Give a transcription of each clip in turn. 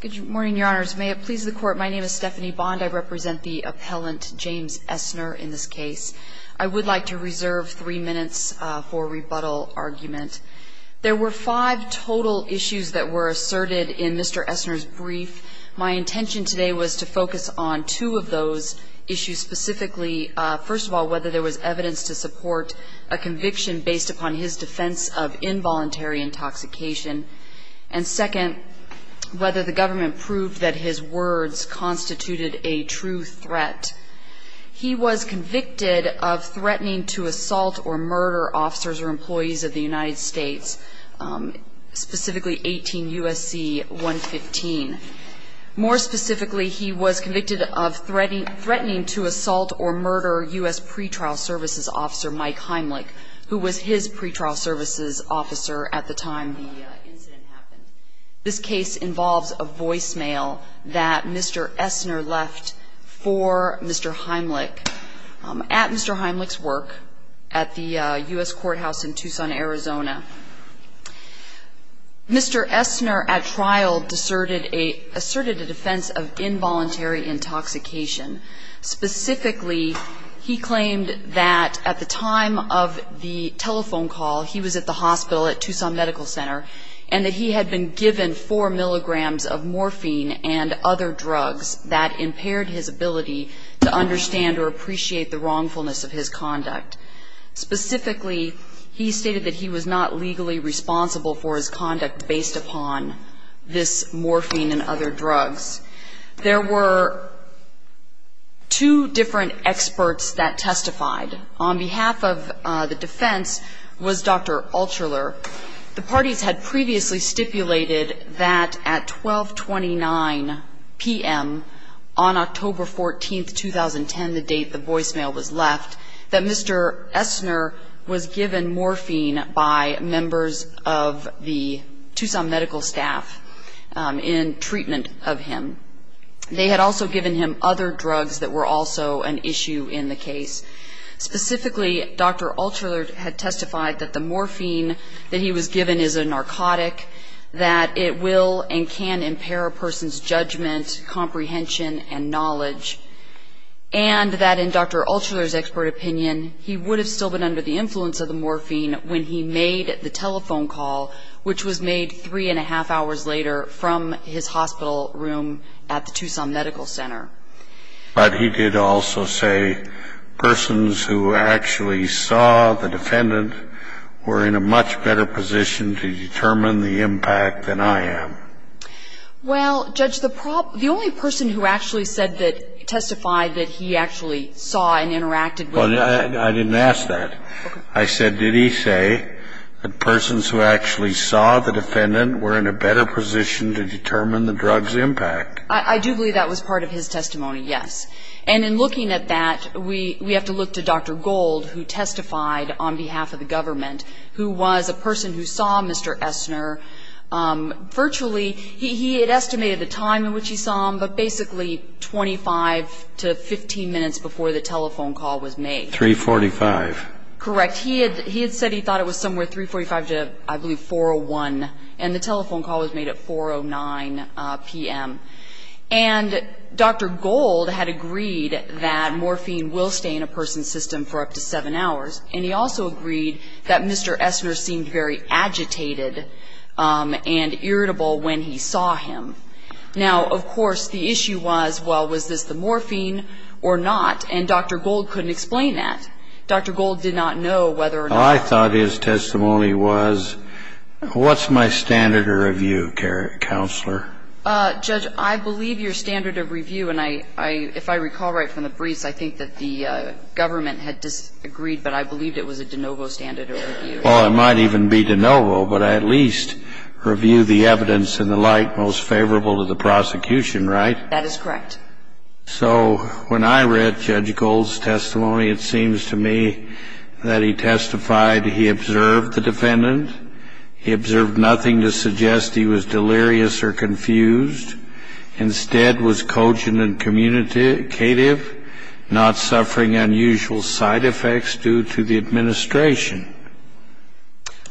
Good morning, Your Honors. May it please the Court, my name is Stephanie Bond. I represent the appellant James Essner in this case. I would like to reserve three minutes for rebuttal argument. There were five total issues that were asserted in Mr. Essner's brief. My intention today was to focus on two of those issues specifically. First of all, whether there was evidence to support a conviction based upon his defense of involuntary intoxication. And second, whether the government proved that his words constituted a true threat. He was convicted of threatening to assault or murder officers or employees of the United States, specifically 18 U.S.C. 115. More specifically, he was convicted of threatening to assault or murder U.S. pretrial services officer Mike Heimlich, who was his pretrial services officer at the time the incident happened. This case involves a voicemail that Mr. Essner left for Mr. Heimlich at Mr. Heimlich's work at the U.S. courthouse in Tucson, Arizona. Mr. Essner at trial asserted a defense of involuntary intoxication. Specifically, he claimed that at the time of the telephone call, he was at the hospital at Tucson Medical Center, and that he had been given four milligrams of morphine and other drugs that impaired his ability to understand or appreciate the wrongfulness of his conduct. Specifically, he stated that he was not legally responsible for his conduct based upon this morphine and other drugs. There were two different experts that testified. On behalf of the defense was Dr. Altshuler. The parties had previously stipulated that at 1229 p.m. on October 14, 2010, the date the voicemail was left, that Mr. Essner was given morphine by members of the Tucson medical staff in treatment of him. They had also given him other drugs that were also an issue in the case. Specifically, Dr. Altshuler had testified that the morphine that he was given is a narcotic, that it will and can impair a person's judgment, comprehension, and knowledge, and that in Dr. Altshuler's expert opinion, he would have still been under the influence of the morphine when he made the telephone call, which was made three and a half hours later from his hospital room at the Tucson Medical Center. But he did also say persons who actually saw the defendant were in a much better position to determine the impact than I am. Well, Judge, the only person who actually testified that he actually saw and interacted with the defendant I didn't ask that. I said, did he say that persons who actually saw the defendant were in a better position to determine the drug's impact? I do believe that was part of his testimony, yes. And in looking at that, we have to look to Dr. Gold, who testified on behalf of the government, who was a person who saw Mr. Essner virtually. He had estimated the time in which he saw him, but basically 25 to 15 minutes before the telephone call was made. 345. Correct. He had said he thought it was somewhere 345 to, I believe, 401, and the telephone call was made at 409 p.m. And Dr. Gold had agreed that morphine will stay in a person's system for up to seven hours, and he also agreed that Mr. Essner seemed very agitated and irritable when he saw him. Now, of course, the issue was, well, was this the morphine or not? And Dr. Gold couldn't explain that. Dr. Gold did not know whether or not. I thought his testimony was, what's my standard of review, Counselor? Judge, I believe your standard of review, and if I recall right from the briefs, I think that the government had disagreed, but I believed it was a de novo standard of review. Well, it might even be de novo, but at least review the evidence and the like most favorable to the prosecution, right? That is correct. So when I read Judge Gold's testimony, it seems to me that he testified he observed the defendant. He observed nothing to suggest he was delirious or confused. Instead, was cogent and communicative, not suffering unusual side effects due to the administration.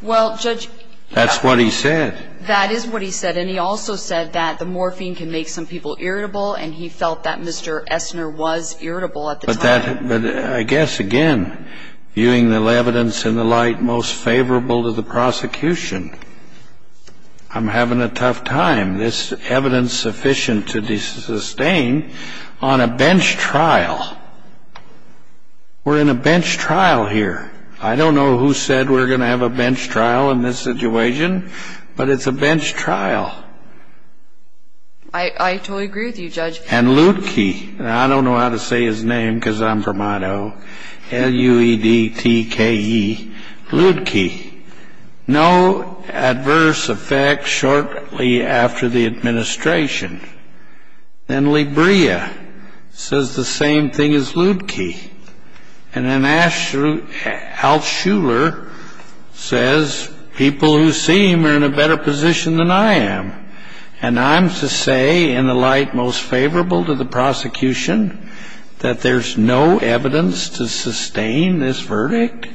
Well, Judge. That's what he said. That is what he said, and he also said that the morphine can make some people irritable, and he felt that Mr. Essner was irritable at the time. But I guess, again, viewing the evidence and the like most favorable to the prosecution, I'm having a tough time. This evidence sufficient to sustain on a bench trial. We're in a bench trial here. I don't know who said we're going to have a bench trial in this situation, but it's a bench trial. I totally agree with you, Judge. And Lutke, and I don't know how to say his name because I'm from Idaho, L-U-E-D-T-K-E, Lutke. No adverse effects shortly after the administration. Then Libria says the same thing as Lutke. And then Altshuler says people who see him are in a better position than I am. And I'm to say, in the light most favorable to the prosecution, that there's no evidence to sustain this verdict?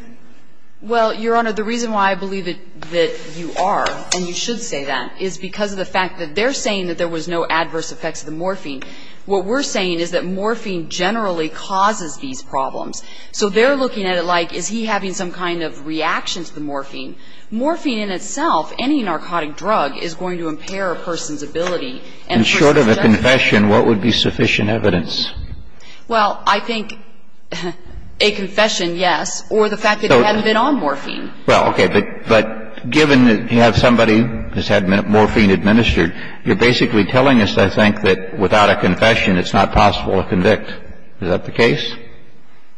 Well, Your Honor, the reason why I believe that you are, and you should say that, is because of the fact that they're saying that there was no adverse effects of the morphine. What we're saying is that morphine generally causes these problems. So they're looking at it like, is he having some kind of reaction to the morphine? Morphine in itself, any narcotic drug, is going to impair a person's ability. And short of a confession, what would be sufficient evidence? Well, I think a confession, yes, or the fact that they haven't been on morphine. Well, okay. But given that you have somebody who's had morphine administered, you're basically telling us, I think, that without a confession, it's not possible to convict. Is that the case?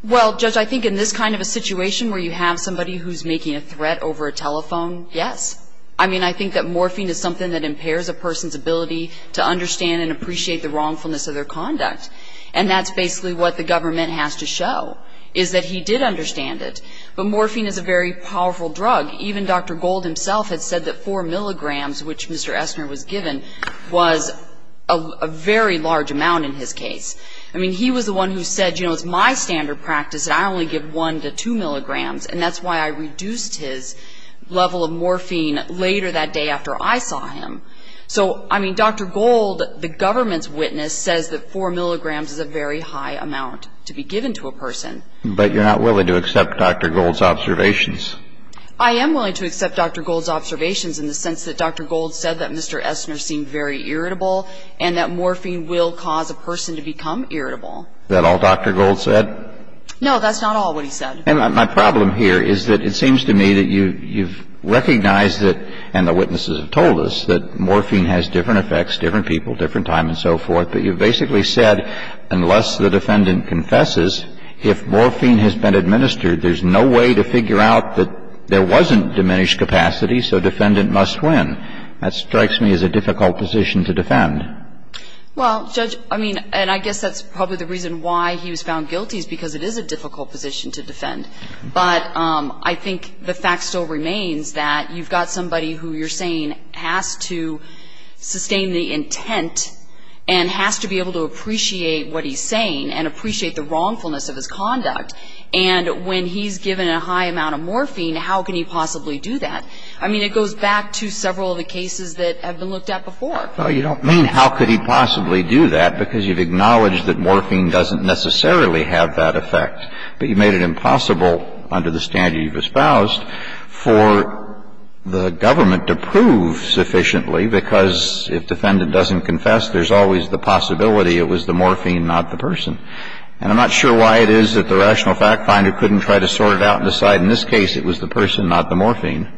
Well, Judge, I think in this kind of a situation where you have somebody who's making a threat over a telephone, yes. I mean, I think that morphine is something that impairs a person's ability to understand and appreciate the wrongfulness of their conduct. And that's basically what the government has to show, is that he did understand it. But morphine is a very powerful drug. Even Dr. Gold himself had said that 4 milligrams, which Mr. Esner was given, was a very large amount in his case. I mean, he was the one who said, you know, it's my standard practice, and I only give 1 to 2 milligrams. And that's why I reduced his level of morphine later that day after I saw him. So, I mean, Dr. Gold, the government's witness, says that 4 milligrams is a very high amount to be given to a person. But you're not willing to accept Dr. Gold's observations. I am willing to accept Dr. Gold's observations, in the sense that Dr. Gold said that Mr. Esner seemed very irritable, and that morphine will cause a person to become irritable. Is that all Dr. Gold said? No, that's not all what he said. And my problem here is that it seems to me that you've recognized that, and the witnesses have told us, that morphine has different effects, different people, different time, and so forth. But you've basically said, unless the defendant confesses, if morphine has been administered, there's no way to figure out that there wasn't diminished capacity, so defendant must win. That strikes me as a difficult position to defend. Well, Judge, I mean, and I guess that's probably the reason why he was found guilty is because it is a difficult position to defend. But I think the fact still remains that you've got somebody who you're saying has to sustain the intent and has to be able to appreciate what he's saying and appreciate the wrongfulness of his conduct. And when he's given a high amount of morphine, how can he possibly do that? I mean, it goes back to several of the cases that have been looked at before. Well, you don't mean how could he possibly do that, because you've acknowledged that morphine doesn't necessarily have that effect, but you've made it impossible under the standard you've espoused for the government to prove sufficiently, because if defendant doesn't confess, there's always the possibility it was the morphine, not the person. And I'm not sure why it is that the rational fact finder couldn't try to sort it out and decide in this case it was the person, not the morphine.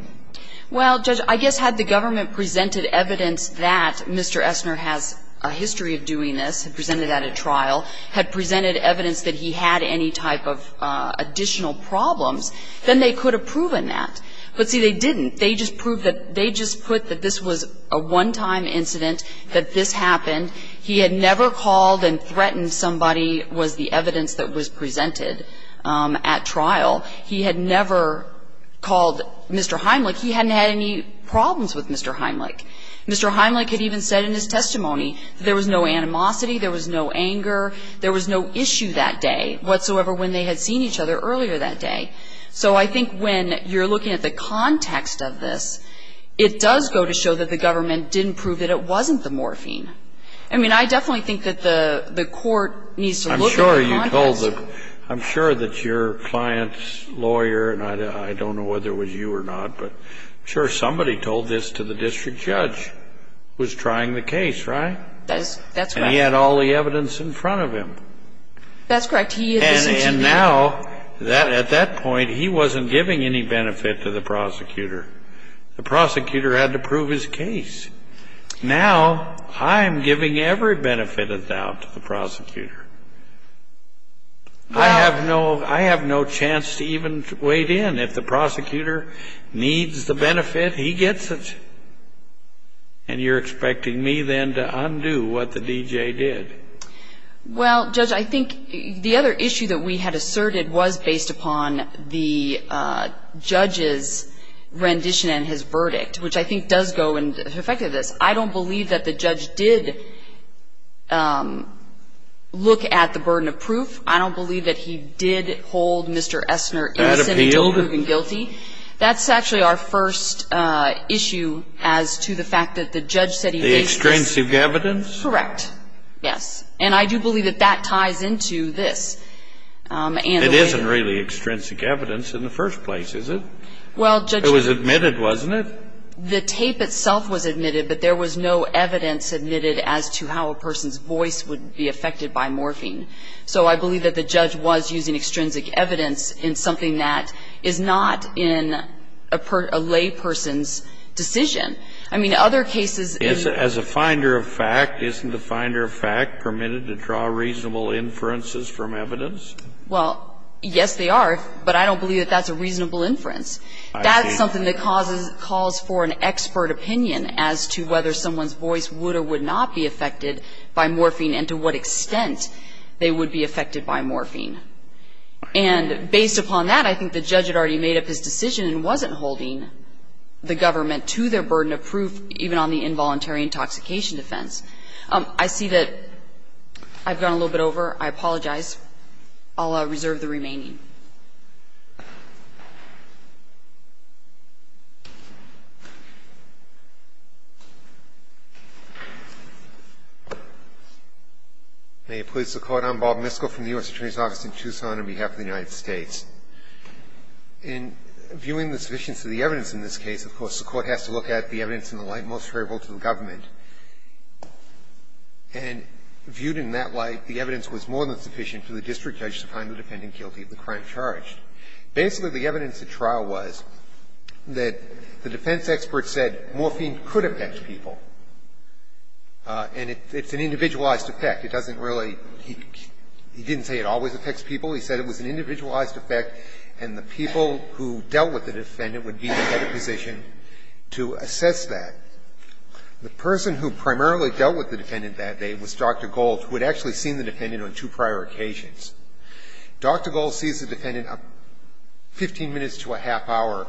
Well, Judge, I guess had the government presented evidence that Mr. Essner has a history of doing this, had presented that at trial, had presented evidence that he had any type of additional problems, then they could have proven that. But, see, they didn't. They just proved that they just put that this was a one-time incident, that this happened. He had never called and threatened somebody was the evidence that was presented at trial. He had never called Mr. Heimlich. He hadn't had any problems with Mr. Heimlich. Mr. Heimlich had even said in his testimony there was no animosity, there was no anger, there was no issue that day whatsoever when they had seen each other earlier that day. So I think when you're looking at the context of this, it does go to show that the government didn't prove that it wasn't the morphine. I mean, I definitely think that the court needs to look at the context. I'm sure you told them. I'm sure that your client's lawyer, and I don't know whether it was you or not, but I'm sure somebody told this to the district judge who was trying the case, right? That's right. He had all the evidence in front of him. That's correct. He had this incident. And now, at that point, he wasn't giving any benefit to the prosecutor. The prosecutor had to prove his case. Now I'm giving every benefit of doubt to the prosecutor. I have no chance to even wade in. If the prosecutor needs the benefit, he gets it. And you're expecting me then to undo what the D.J. did. Well, Judge, I think the other issue that we had asserted was based upon the judge's rendition and his verdict, which I think does go into the effect of this. I don't believe that the judge did look at the burden of proof. I don't believe that he did hold Mr. Essner innocent until proven guilty. That's actually our first issue as to the fact that the judge said he based this. The extrinsic evidence? Correct. Yes. And I do believe that that ties into this. It isn't really extrinsic evidence in the first place, is it? Well, Judge. It was admitted, wasn't it? The tape itself was admitted, but there was no evidence admitted as to how a person's voice would be affected by morphine. So I believe that the judge was using extrinsic evidence in something that is not in a lay person's decision. I mean, other cases in the case of this case, it's not. As a finder of fact, isn't the finder of fact permitted to draw reasonable inferences from evidence? Well, yes, they are. But I don't believe that that's a reasonable inference. I see. That's something that calls for an expert opinion as to whether someone's voice would or would not be affected by morphine and to what extent they would be affected by morphine. And based upon that, I think the judge had already made up his decision and wasn't holding the government to their burden of proof even on the involuntary intoxication defense. I see that I've gone a little bit over. I apologize. I'll reserve the remaining. May it please the Court. I'm Bob Misko from the U.S. Attorney's Office in Tucson on behalf of the United States. In viewing the sufficiency of the evidence in this case, of course, the Court has to look at the evidence in the light most favorable to the government. And viewed in that light, the evidence was more than sufficient for the district judge to find the defendant guilty of the crime. Basically, the evidence at trial was that the defense expert said morphine could affect people. And it's an individualized effect. It doesn't really he didn't say it always affects people. He said it was an individualized effect and the people who dealt with the defendant would be in a better position to assess that. The person who primarily dealt with the defendant that day was Dr. Gold, who had actually seen the defendant on two prior occasions. Dr. Gold sees the defendant 15 minutes to a half hour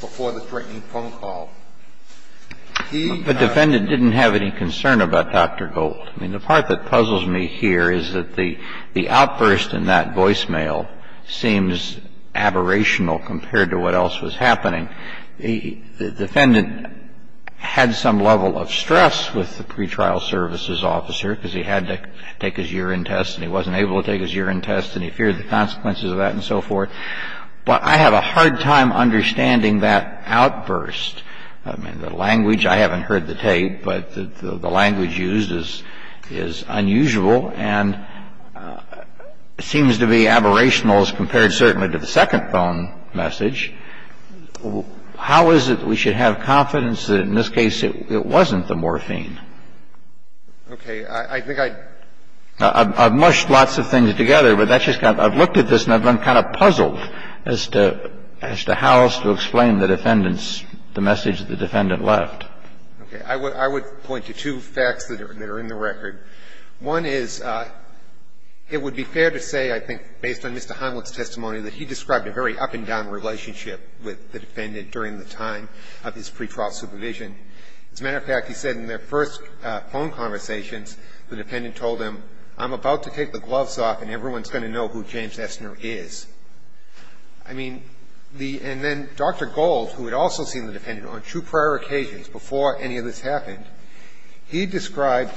before the threatening phone call. He… The defendant didn't have any concern about Dr. Gold. I mean, the part that puzzles me here is that the outburst in that voicemail seems aberrational compared to what else was happening. The defendant had some level of stress with the pretrial services officer because he had to take his urine test and he wasn't able to take his urine test and he feared the consequences of that and so forth. But I have a hard time understanding that outburst. I mean, the language, I haven't heard the tape, but the language used is unusual and seems to be aberrational as compared certainly to the second phone message. How is it that we should have confidence that in this case it wasn't the morphine? Okay. I think I've mushed lots of things together, but that's just kind of – I've looked at this and I've been kind of puzzled as to how else to explain the defendant's – the message that the defendant left. Okay. I would point to two facts that are in the record. One is it would be fair to say, I think, based on Mr. Heimlich's testimony, that he described a very up-and-down relationship with the defendant during the time of his pretrial supervision. As a matter of fact, he said in their first phone conversations, the defendant told him, I'm about to take the gloves off and everyone's going to know who James Estner is. I mean, the – and then Dr. Gold, who had also seen the defendant on two prior occasions before any of this happened, he described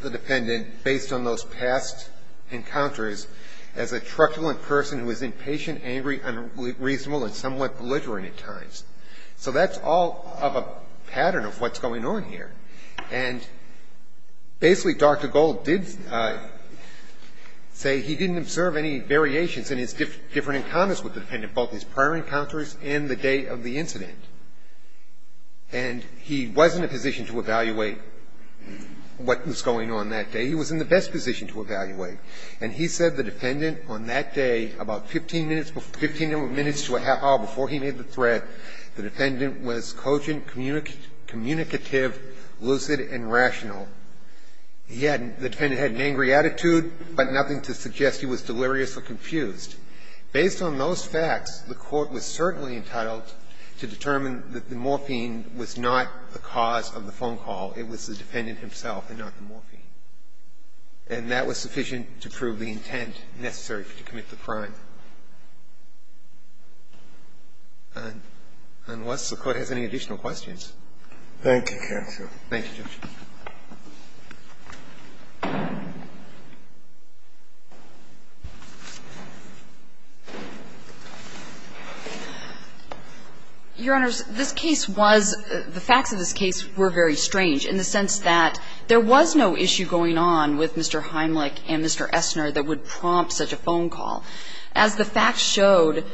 the defendant, based on those past encounters, as a truculent person who was impatient, angry, unreasonable and somewhat belligerent at times. So that's all of a pattern of what's going on here. And basically, Dr. Gold did say he didn't observe any variations in his different encounters with the defendant, both his prior encounters and the day of the incident. And he was in a position to evaluate what was going on that day. He was in the best position to evaluate. And he said the defendant on that day, about 15 minutes to a half hour before he made the threat, the defendant was cogent, communicative, lucid and rational. He had – the defendant had an angry attitude, but nothing to suggest he was delirious or confused. Based on those facts, the Court was certainly entitled to determine that the morphine was not the cause of the phone call. It was the defendant himself and not the morphine. And that was sufficient to prove the intent necessary to commit the crime. Unless the Court has any additional questions. Thank you, counsel. Thank you, Judge. Your Honors, this case was – the facts of this case were very strange in the sense that there was no issue going on with Mr. Heimlich and Mr. Essner that would prompt such a phone call. As the facts showed,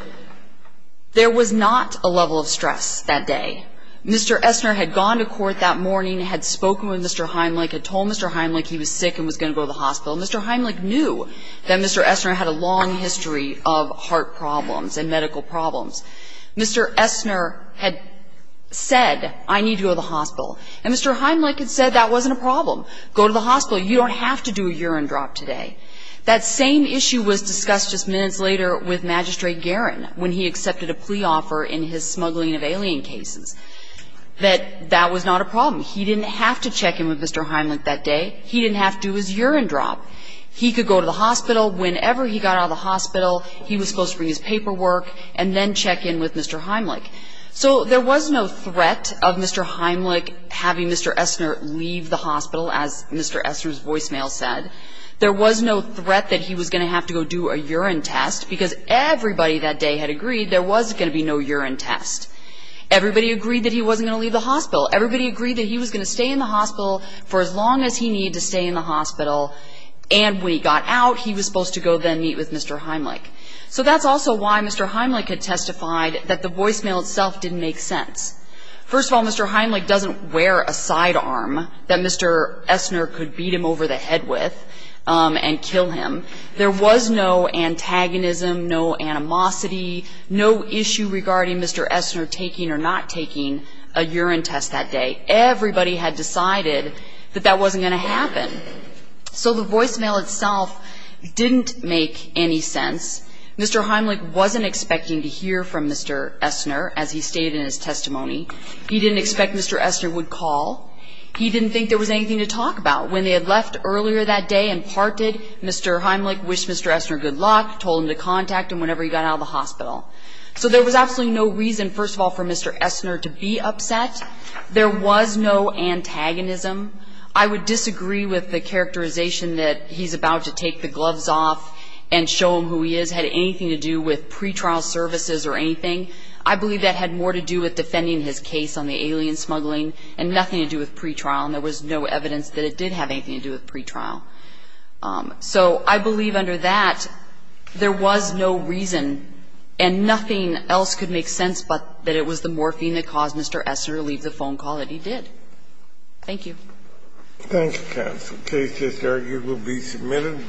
there was not a level of stress that day. Mr. Essner had gone to court that morning, had spoken with Mr. Heimlich, had told Mr. Heimlich he was sick and was going to go to the hospital. Mr. Heimlich knew that Mr. Essner had a long history of heart problems and medical problems. Mr. Essner had said, I need to go to the hospital. And Mr. Heimlich had said that wasn't a problem. Go to the hospital. You don't have to do a urine drop today. That same issue was discussed just minutes later with Magistrate Guerin when he accepted a plea offer in his smuggling of alien cases, that that was not a problem. He didn't have to check in with Mr. Heimlich that day. He didn't have to do his urine drop. He could go to the hospital. Whenever he got out of the hospital, he was supposed to bring his paperwork and then check in with Mr. Heimlich. So there was no threat of Mr. Heimlich having Mr. Essner leave the hospital, as Mr. Essner's voicemail said. There was no threat that he was going to have to go do a urine test, because everybody that day had agreed there was going to be no urine test. Everybody agreed that he wasn't going to leave the hospital. Everybody agreed that he was going to stay in the hospital for as long as he needed to stay in the hospital. And when he got out, he was supposed to go then meet with Mr. Heimlich. So that's also why Mr. Heimlich had testified that the voicemail itself didn't make sense. First of all, Mr. Heimlich doesn't wear a sidearm that Mr. Essner could beat him over the head with and kill him. There was no antagonism, no animosity, no issue regarding Mr. Essner taking or not taking a urine test that day. Everybody had decided that that wasn't going to happen. So the voicemail itself didn't make any sense. Mr. Heimlich wasn't expecting to hear from Mr. Essner, as he stated in his testimony. He didn't expect Mr. Essner would call. He didn't think there was anything to talk about. When they had left earlier that day and parted, Mr. Heimlich wished Mr. Essner good luck, told him to contact him whenever he got out of the hospital. So there was absolutely no reason, first of all, for Mr. Essner to be upset. There was no antagonism. I would disagree with the characterization that he's about to take the gloves off and show him who he is had anything to do with pretrial services or anything. I believe that had more to do with defending his case on the alien smuggling and nothing to do with pretrial. And there was no evidence that it did have anything to do with pretrial. So I believe under that there was no reason, and nothing else could make sense, but that it was the morphine that caused Mr. Essner to leave the phone call that he did. Thank you. Thank you, counsel. The case is argued and will be submitted.